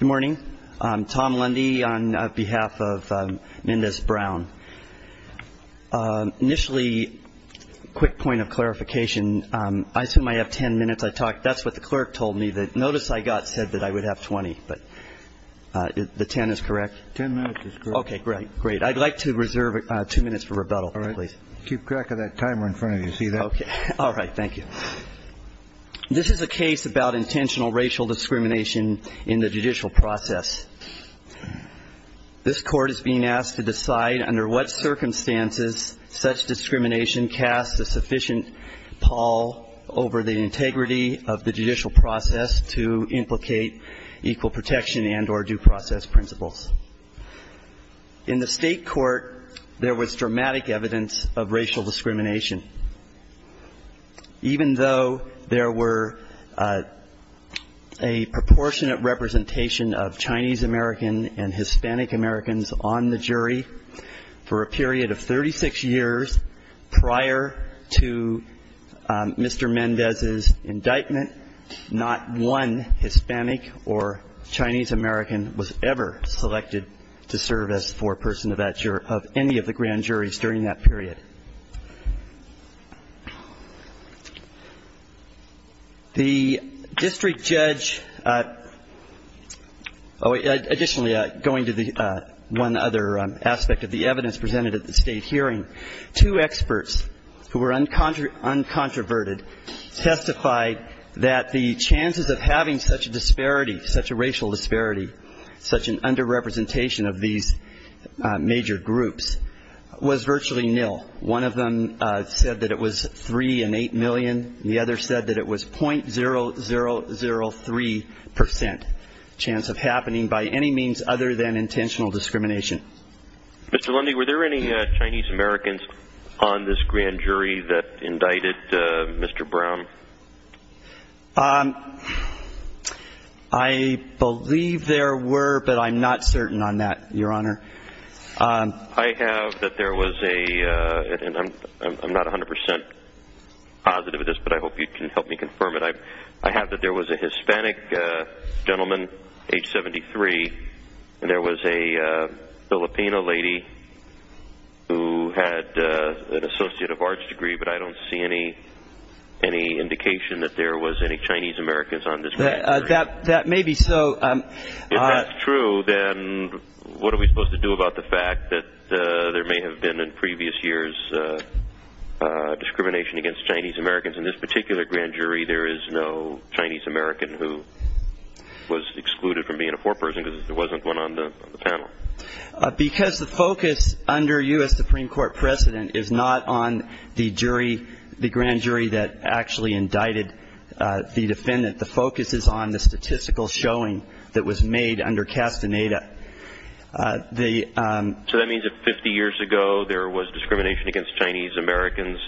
Good morning, I'm Tom Lundy on behalf of Mendes Brown. Initially, quick point of clarification, I assume I have 10 minutes, I talked, that's what the clerk told me, that notice I got said that I would have 20, but the 10 is correct? 10 minutes is correct. Okay, great, great. I'd like to reserve two minutes for rebuttal, please. Keep track of that timer in front of you, see that? Okay, all right, thank you. This is a case about intentional racial discrimination in the judicial process. This court is being asked to decide under what circumstances such discrimination casts a sufficient pall over the integrity of the judicial process to implicate equal protection and or due process principles. In the State court, there was dramatic evidence of racial discrimination. Even though there were a proportionate representation of Chinese American and Hispanic Americans on the jury, for a period of 36 years, prior to Mr. Mendes's indictment, not one Hispanic or Chinese American was ever selected. The district judge, additionally, going to the one other aspect of the evidence presented at the State hearing, two experts who were uncontroverted testified that the chances of having such a disparity, such a racial disparity, such an underrepresentation in the judicial process, was extremely low. One of them said that it was three and eight million. The other said that it was .0003% chance of happening by any means other than intentional discrimination. Mr. Lundy, were there any Chinese Americans on this grand jury that indicted Mr. Brown? I believe there were, but I'm not certain on that, Your Honor. I have that there was a, and I'm not 100% positive of this, but I hope you can help me confirm it. I have that there was a Hispanic gentleman, age 73, and there was a Filipino lady who had an Associate of Arts degree, but I don't see any indication that there was any Chinese Americans on this grand jury. That may be so. If that's true, then what are we supposed to do about the fact that there may have been in previous years discrimination against Chinese Americans? In this particular grand jury, there is no Chinese American who was excluded from being a foreperson because there wasn't one on the panel. Because the focus under U.S. Supreme Court precedent is not on the jury, the grand jury that actually indicted the defendant. The focus is on the statistical showing that was made under Castaneda. So that means that 50 years ago there was discrimination against Chinese Americans.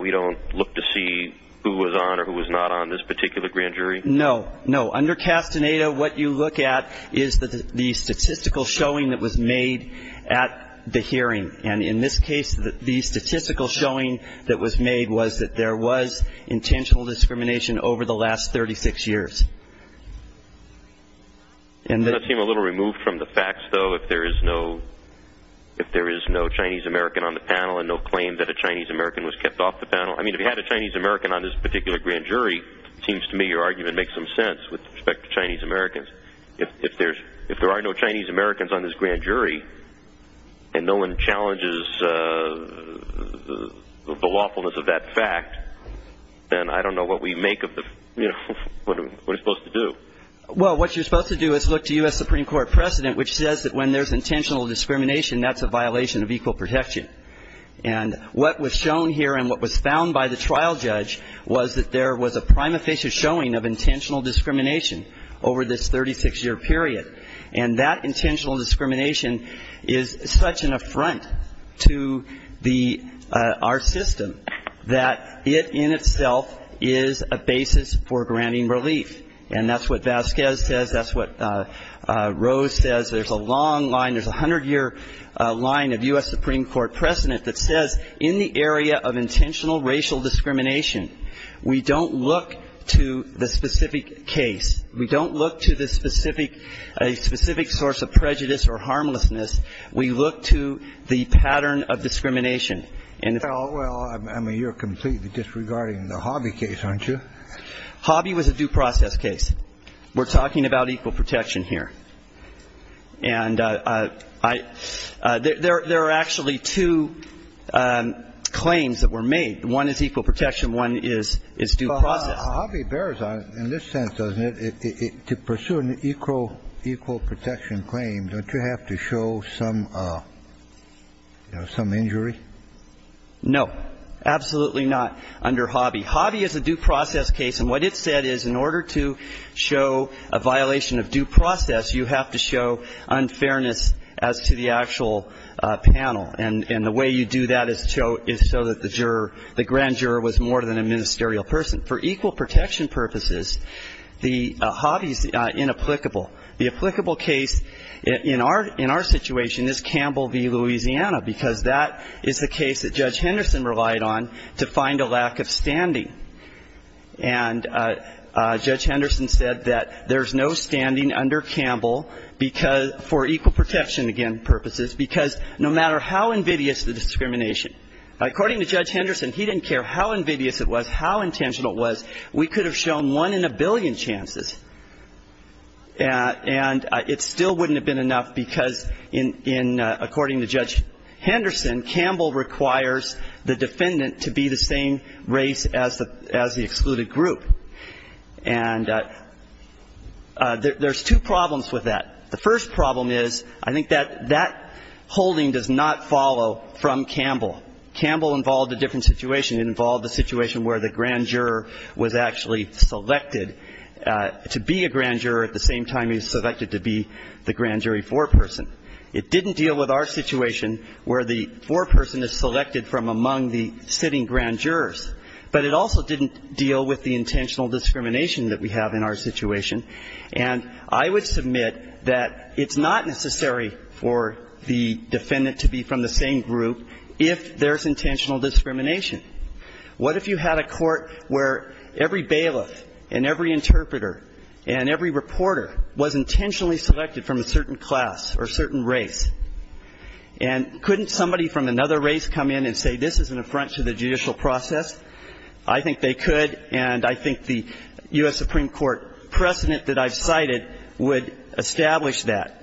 We don't look to see who was on or who was not on this particular grand jury? No, no. Under Castaneda, what you look at is the statistical showing that was made at the hearing. And in this case, the statistical showing that was made was that there was intentional discrimination over the last 36 years. Does that seem a little removed from the facts, though, if there is no Chinese American on the panel and no claim that a Chinese American was kept off the panel? I mean, if you had a Chinese American on this particular grand jury, it seems to me your argument makes some sense with respect to Chinese Americans. If there are no Chinese Americans on this grand jury and no one challenges the lawfulness of that fact, then I don't know what we make of what we're supposed to do. Well, what you're supposed to do is look to U.S. Supreme Court precedent, which says that when there's intentional discrimination, that's a violation of equal protection. And what was shown here and what was found by the trial judge was that there was a prima facie showing of intentional discrimination over this 36-year period. And that intentional discrimination is such an affront to our system that it in itself is a basis for granting relief. And that's what Vasquez says. That's what Rose says. There's a long line. There's a 100-year line of U.S. Supreme Court precedent that says in the area of intentional racial discrimination, we don't look to the specific case. We don't look to the specific source of prejudice or harmlessness. We look to the pattern of discrimination. Well, I mean, you're completely disregarding the Hobby case, aren't you? Hobby was a due process case. We're talking about equal protection here. And there are actually two claims that were made. One is equal protection. One is due process. Well, Hobby bears on it in this sense, doesn't it? To pursue an equal protection claim, don't you have to show some, you know, some injury? No. Absolutely not under Hobby. Hobby is a due process case, and what it said is in order to show a violation of due process, you have to show unfairness as to the actual panel. And the way you do that is so that the juror, the grand juror was more than a ministerial person. For equal protection purposes, the Hobby is inapplicable. The applicable case in our situation is Campbell v. Louisiana because that is the case that Judge Henderson relied on to find a lack of standing. And Judge Henderson said that there's no standing under Campbell for equal protection purposes because no matter how invidious the discrimination, according to Judge Henderson, he didn't care how invidious it was, how intentional it was, we could have shown one in a billion chances. And it still wouldn't have been enough because according to Judge Henderson, Campbell requires the defendant to be the same race as the excluded group. And there's two problems with that. The first problem is I think that that holding does not follow from Campbell. Campbell involved a different situation. It involved a situation where the grand juror was actually selected to be a grand juror at the same time he was selected to be the grand jury foreperson. It didn't deal with our situation where the foreperson is selected from among the sitting grand jurors. But it also didn't deal with the intentional discrimination that we have in our situation. And I would submit that it's not necessary for the defendant to be from the same group if there's intentional discrimination. What if you had a court where every bailiff and every interpreter and every reporter was intentionally selected from a certain class or a certain race? And couldn't somebody from another race come in and say this is an affront to the judicial process? I think they could, and I think the U.S. Supreme Court precedent that I've cited would establish that.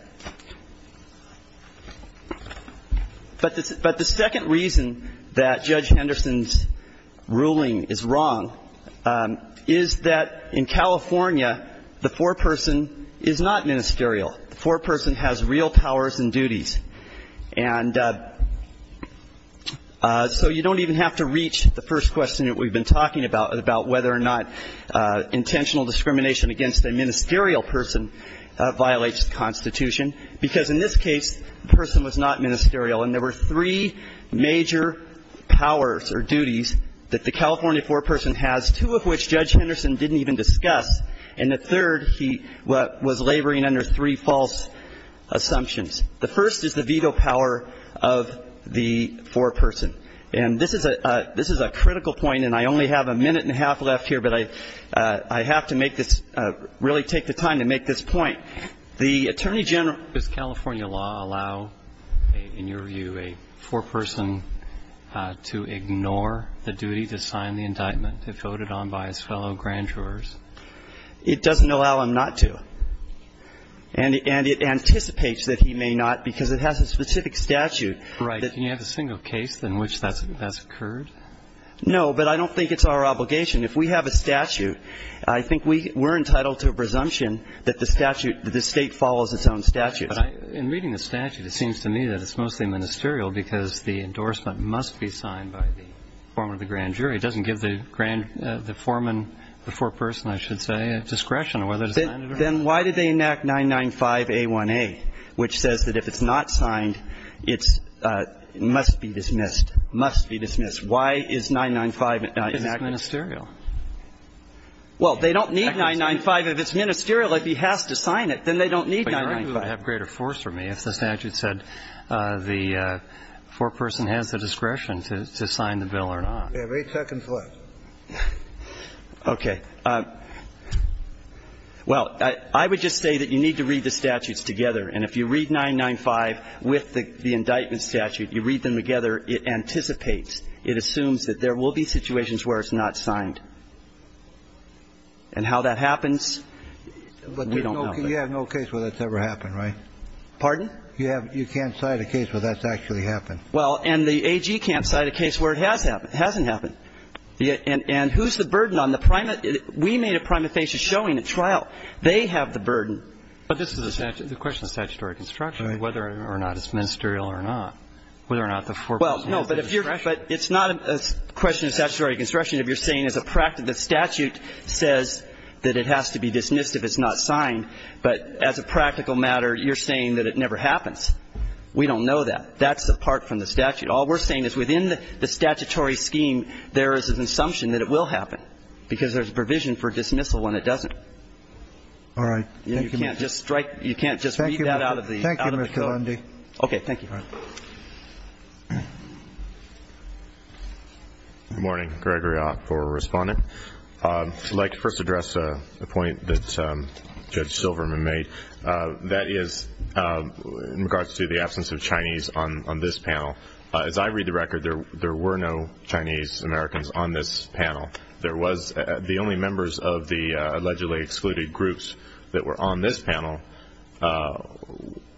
But the second reason that Judge Henderson's ruling is wrong is that in California, the foreperson is not ministerial. The foreperson has real powers and duties. And so you don't even have to reach the first question that we've been talking about, about whether or not intentional discrimination against a ministerial person violates the Constitution, because in this case, the person was not ministerial. And there were three major powers or duties that the California foreperson has, two of which Judge Henderson didn't even discuss. And the third, he was laboring under three false assumptions. The first is the veto power of the foreperson. And this is a critical point, and I only have a minute and a half left here, but I have to make this, really take the time to make this point. The Attorney General, does California law allow, in your view, a foreperson to ignore the duty to sign the indictment if voted on by his fellow grand jurors? It doesn't allow him not to. And it anticipates that he may not, because it has a specific statute. Right. Can you have a single case in which that's occurred? No, but I don't think it's our obligation. If we have a statute, I think we're entitled to a presumption that the statute, that the State follows its own statutes. But in reading the statute, it seems to me that it's mostly ministerial because the endorsement must be signed by the foreman of the grand jury. It doesn't give the foreman, the foreperson, I should say, discretion on whether to sign it or not. Then why did they enact 995a1a, which says that if it's not signed, it must be dismissed, must be dismissed. Why is 995 not enacted? Because it's ministerial. Well, they don't need 995 if it's ministerial. If he has to sign it, then they don't need 995. But 995 would have greater force for me if the statute said the foreperson has the discretion to sign the bill or not. You have eight seconds left. Okay. Well, I would just say that you need to read the statutes together. And if you read 995 with the indictment statute, you read them together, it anticipates, it assumes that there will be situations where it's not signed. And how that happens, we don't know. You have no case where that's ever happened, right? Pardon? You can't cite a case where that's actually happened. Well, and the AG can't cite a case where it has happened. It hasn't happened. And who's the burden on the prime? We made a prima facie showing at trial. They have the burden. But this is the question of statutory construction, whether or not it's ministerial or not, whether or not the foreperson has the discretion. But it's not a question of statutory construction if you're saying as a practice that it has to be dismissed if it's not signed. But as a practical matter, you're saying that it never happens. We don't know that. That's apart from the statute. All we're saying is within the statutory scheme, there is an assumption that it will happen, because there's a provision for dismissal when it doesn't. All right. Thank you, Mr. Lundy. You can't just read that out of the bill. Thank you, Mr. Lundy. Okay. Thank you. All right. Good morning. Gregory Ott for Respondent. I'd like to first address a point that Judge Silverman made. That is in regards to the absence of Chinese on this panel. As I read the record, there were no Chinese Americans on this panel. The only members of the allegedly excluded groups that were on this panel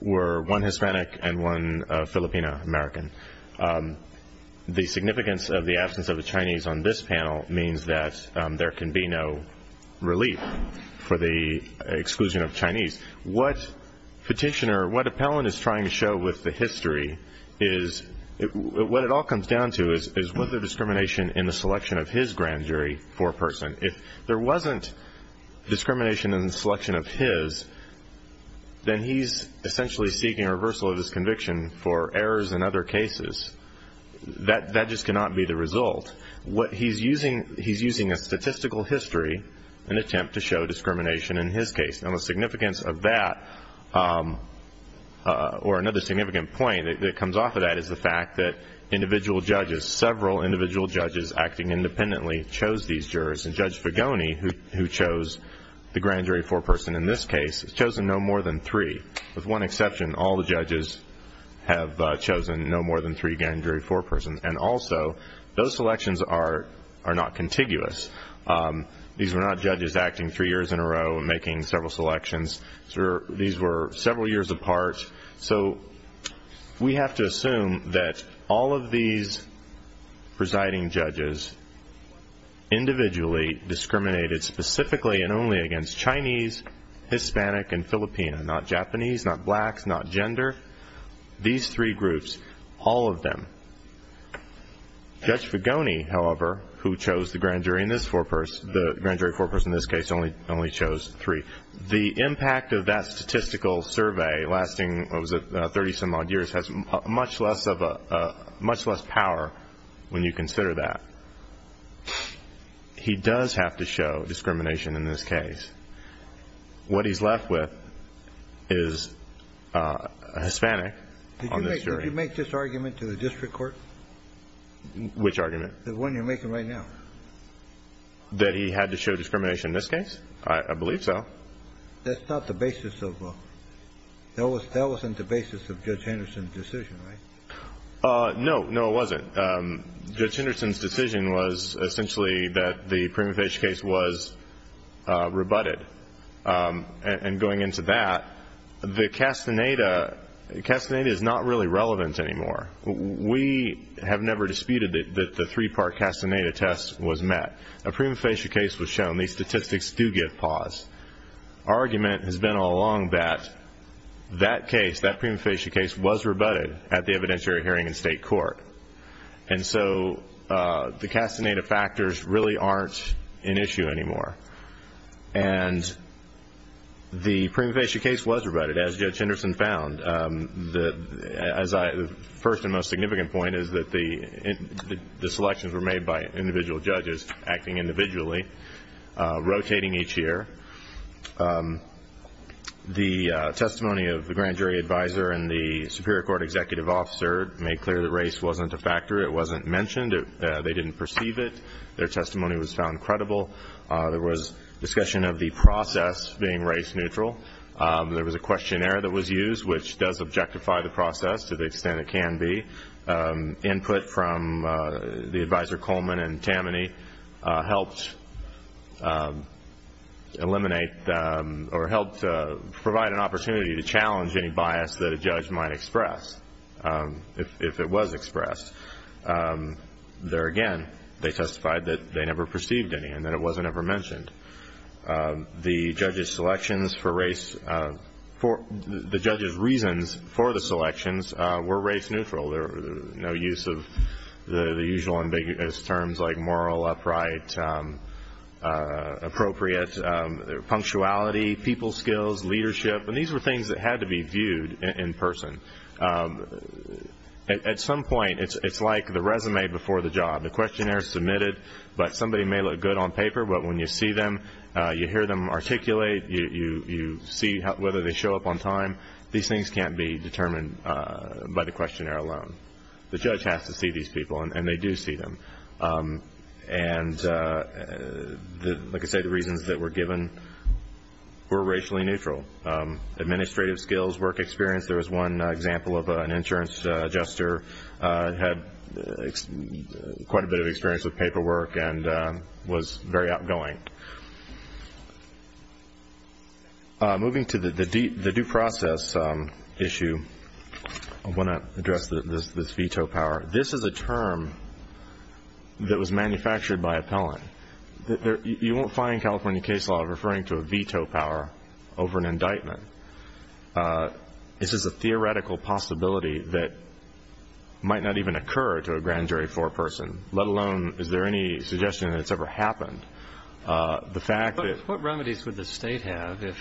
were one Hispanic and one Filipina American. The significance of the absence of a Chinese on this panel means that there can be no relief for the exclusion of Chinese. What Petitioner, what Appellant is trying to show with the history is what it all comes down to is was there discrimination in the selection of his grand jury for a person? If there wasn't discrimination in the selection of his, then he's essentially seeking a basis. That just cannot be the result. He's using a statistical history in an attempt to show discrimination in his case. The significance of that or another significant point that comes off of that is the fact that individual judges, several individual judges acting independently, chose these jurors. Judge Vigoni, who chose the grand jury for a person in this case, has chosen no more than three. With one exception, all the judges have chosen no more than three grand jury for a person. Also, those selections are not contiguous. These were not judges acting three years in a row and making several selections. These were several years apart. We have to assume that all of these presiding judges individually discriminated specifically and only against Chinese, Hispanic, and Filipina, not Japanese, not blacks, not gender. These three groups, all of them. Judge Vigoni, however, who chose the grand jury in this case, only chose three. The impact of that statistical survey lasting 30-some odd years has much less power when you consider that. He does have to show discrimination in this case. What he's left with is a Hispanic on this jury. Did you make this argument to the district court? Which argument? The one you're making right now. That he had to show discrimination in this case? I believe so. That's not the basis of a – that wasn't the basis of Judge Henderson's decision, right? No. No, it wasn't. Judge Henderson's decision was essentially that the prima facie case was rebutted. And going into that, the Castaneda – Castaneda is not really relevant anymore. We have never disputed that the three-part Castaneda test was met. A prima facie case was shown. These statistics do give pause. Our argument has been all along that that case, that prima facie case, was rebutted at the evidentiary hearing in state court. And so the Castaneda factors really aren't an issue anymore. And the prima facie case was rebutted, as Judge Henderson found. As I – the first and most significant point is that the selections were made by individual judges acting individually, rotating each year. The testimony of the grand jury advisor and the superior court executive officer made clear that race wasn't a factor. It wasn't mentioned. They didn't perceive it. Their testimony was found credible. There was discussion of the process being race-neutral. There was a questionnaire that was used, which does objectify the process to the extent it can be. Input from the advisor Coleman and Tammany helped eliminate or helped provide an opportunity to challenge any bias that a judge might express, if it was expressed. There again, they testified that they never perceived any and that it wasn't ever mentioned. The judges' selections for race – the judges' reasons for the selections were race-neutral. There was no use of the usual ambiguous terms like moral, upright, appropriate, punctuality, people skills, leadership. And these were things that had to be viewed in person. At some point, it's like the resume before the job. The questionnaire is submitted, but somebody may look good on paper, but when you see them, you hear them articulate, you see whether they show up on time. These things can't be determined by the questionnaire alone. The judge has to see these people, and they do see them. And like I say, the reasons that were given were racially neutral. Administrative skills, work experience. There was one example of an insurance adjuster who had quite a bit of experience with paperwork and was very outgoing. Moving to the due process issue, I want to address this veto power. This is a term that was manufactured by appellant. You won't find California case law referring to a veto power over an indictment. This is a theoretical possibility that might not even occur to a grand jury foreperson, let alone is there any suggestion that it's ever happened. What remedies would the state have if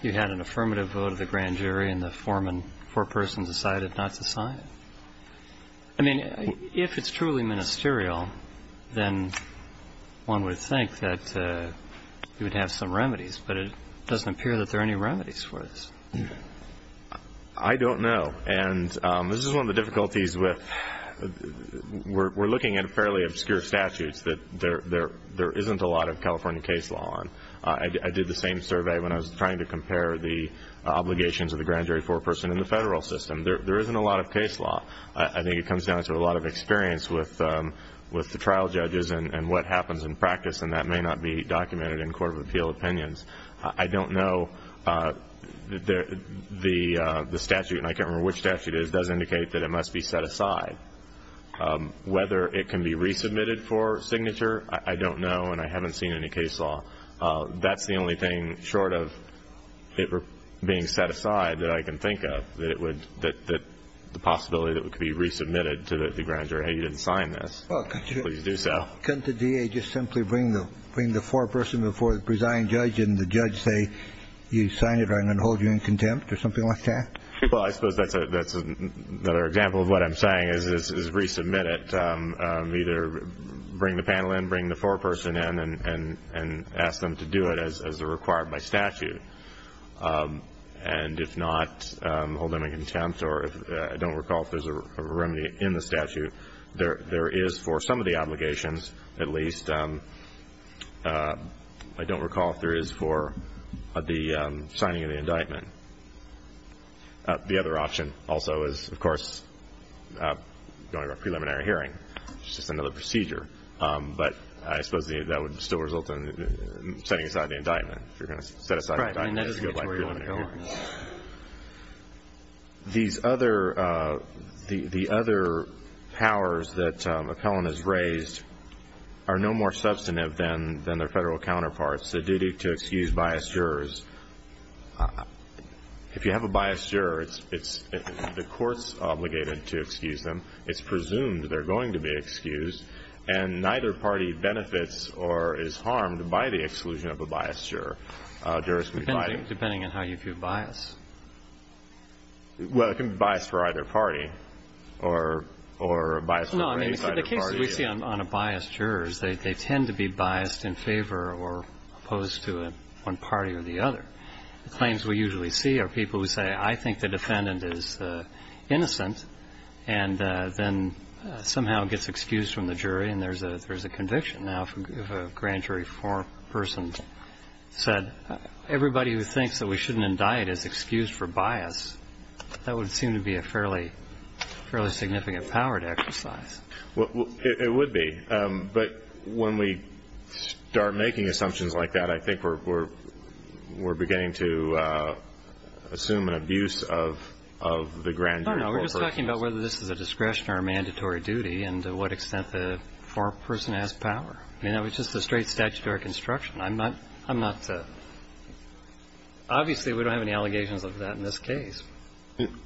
you had an affirmative vote of the grand jury and the foreperson decided not to sign it? I mean, if it's truly ministerial, then one would think that you would have some remedies, but it doesn't appear that there are any remedies for this. I don't know. And this is one of the difficulties with we're looking at fairly obscure statutes, that there isn't a lot of California case law on. I did the same survey when I was trying to compare the obligations of the grand jury foreperson in the federal system. There isn't a lot of case law. I think it comes down to a lot of experience with the trial judges and what happens in practice, and that may not be documented in court of appeal opinions. I don't know. The statute, and I can't remember which statute it is, does indicate that it must be set aside. Whether it can be resubmitted for signature, I don't know, and I haven't seen any case law. That's the only thing short of it being set aside that I can think of, that the possibility that it could be resubmitted to the grand jury. Hey, you didn't sign this. Please do so. Couldn't the DA just simply bring the foreperson before the presiding judge and the judge say you signed it or I'm going to hold you in contempt or something like that? Well, I suppose that's another example of what I'm saying is resubmit it. Either bring the panel in, bring the foreperson in, and ask them to do it as required by statute. And if not, hold them in contempt. I don't recall if there's a remedy in the statute. There is for some of the obligations, at least. I don't recall if there is for the signing of the indictment. The other option also is, of course, going to a preliminary hearing. It's just another procedure. But I suppose that would still result in setting aside the indictment. If you're going to set aside the indictment, that's a good preliminary hearing. These other powers that appellant has raised are no more substantive than their federal counterparts. The duty to excuse biased jurors. If you have a biased juror, the court's obligated to excuse them. It's presumed they're going to be excused. And neither party benefits or is harmed by the exclusion of a biased juror. Depending on how you view bias. Well, it can be biased for either party. Or biased for any party. No, I mean, the cases we see on a biased juror, they tend to be biased in favor or opposed to one party or the other. The claims we usually see are people who say, I think the defendant is innocent, and then somehow gets excused from the jury, and there's a conviction. Now, if a grand jury foreperson said, everybody who thinks that we shouldn't indict is excused for bias, that would seem to be a fairly significant power to exercise. It would be. But when we start making assumptions like that, I think we're beginning to assume an abuse of the grand jury foreperson. I don't know. We're just talking about whether this is a discretion or a mandatory duty and to what extent the foreperson has power. I mean, that was just a straight statutory construction. I'm not to – obviously, we don't have any allegations of that in this case.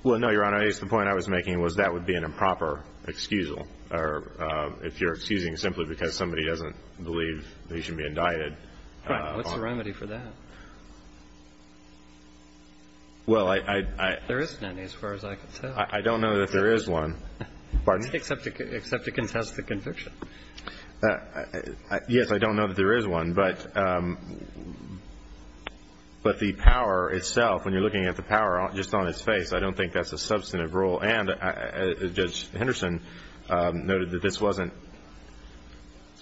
Well, no, Your Honor. I guess the point I was making was that would be an improper excusal, or if you're excusing simply because somebody doesn't believe they should be indicted. Right. What's the remedy for that? Well, I – There isn't any, as far as I can tell. I don't know that there is one. Pardon me? Except to contest the conviction. Yes, I don't know that there is one. But the power itself, when you're looking at the power just on its face, I don't think that's a substantive rule. And Judge Henderson noted that this wasn't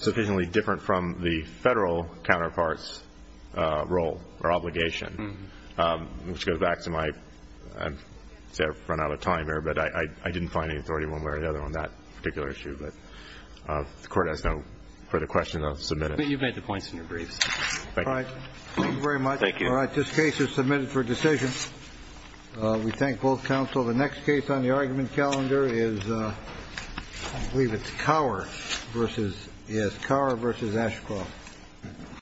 sufficiently different from the Federal counterpart's role or obligation, which goes back to my – I've run out of time here, but I didn't find any authority one way or the other on that particular issue. But if the Court has no further questions, I'll submit it. You've made the points in your briefs. Thank you. All right. Thank you very much. Thank you. All right. This case is submitted for decision. We thank both counsel. The next case on the argument calendar is – I believe it's Cower versus – yes, Cower versus Ashcroft.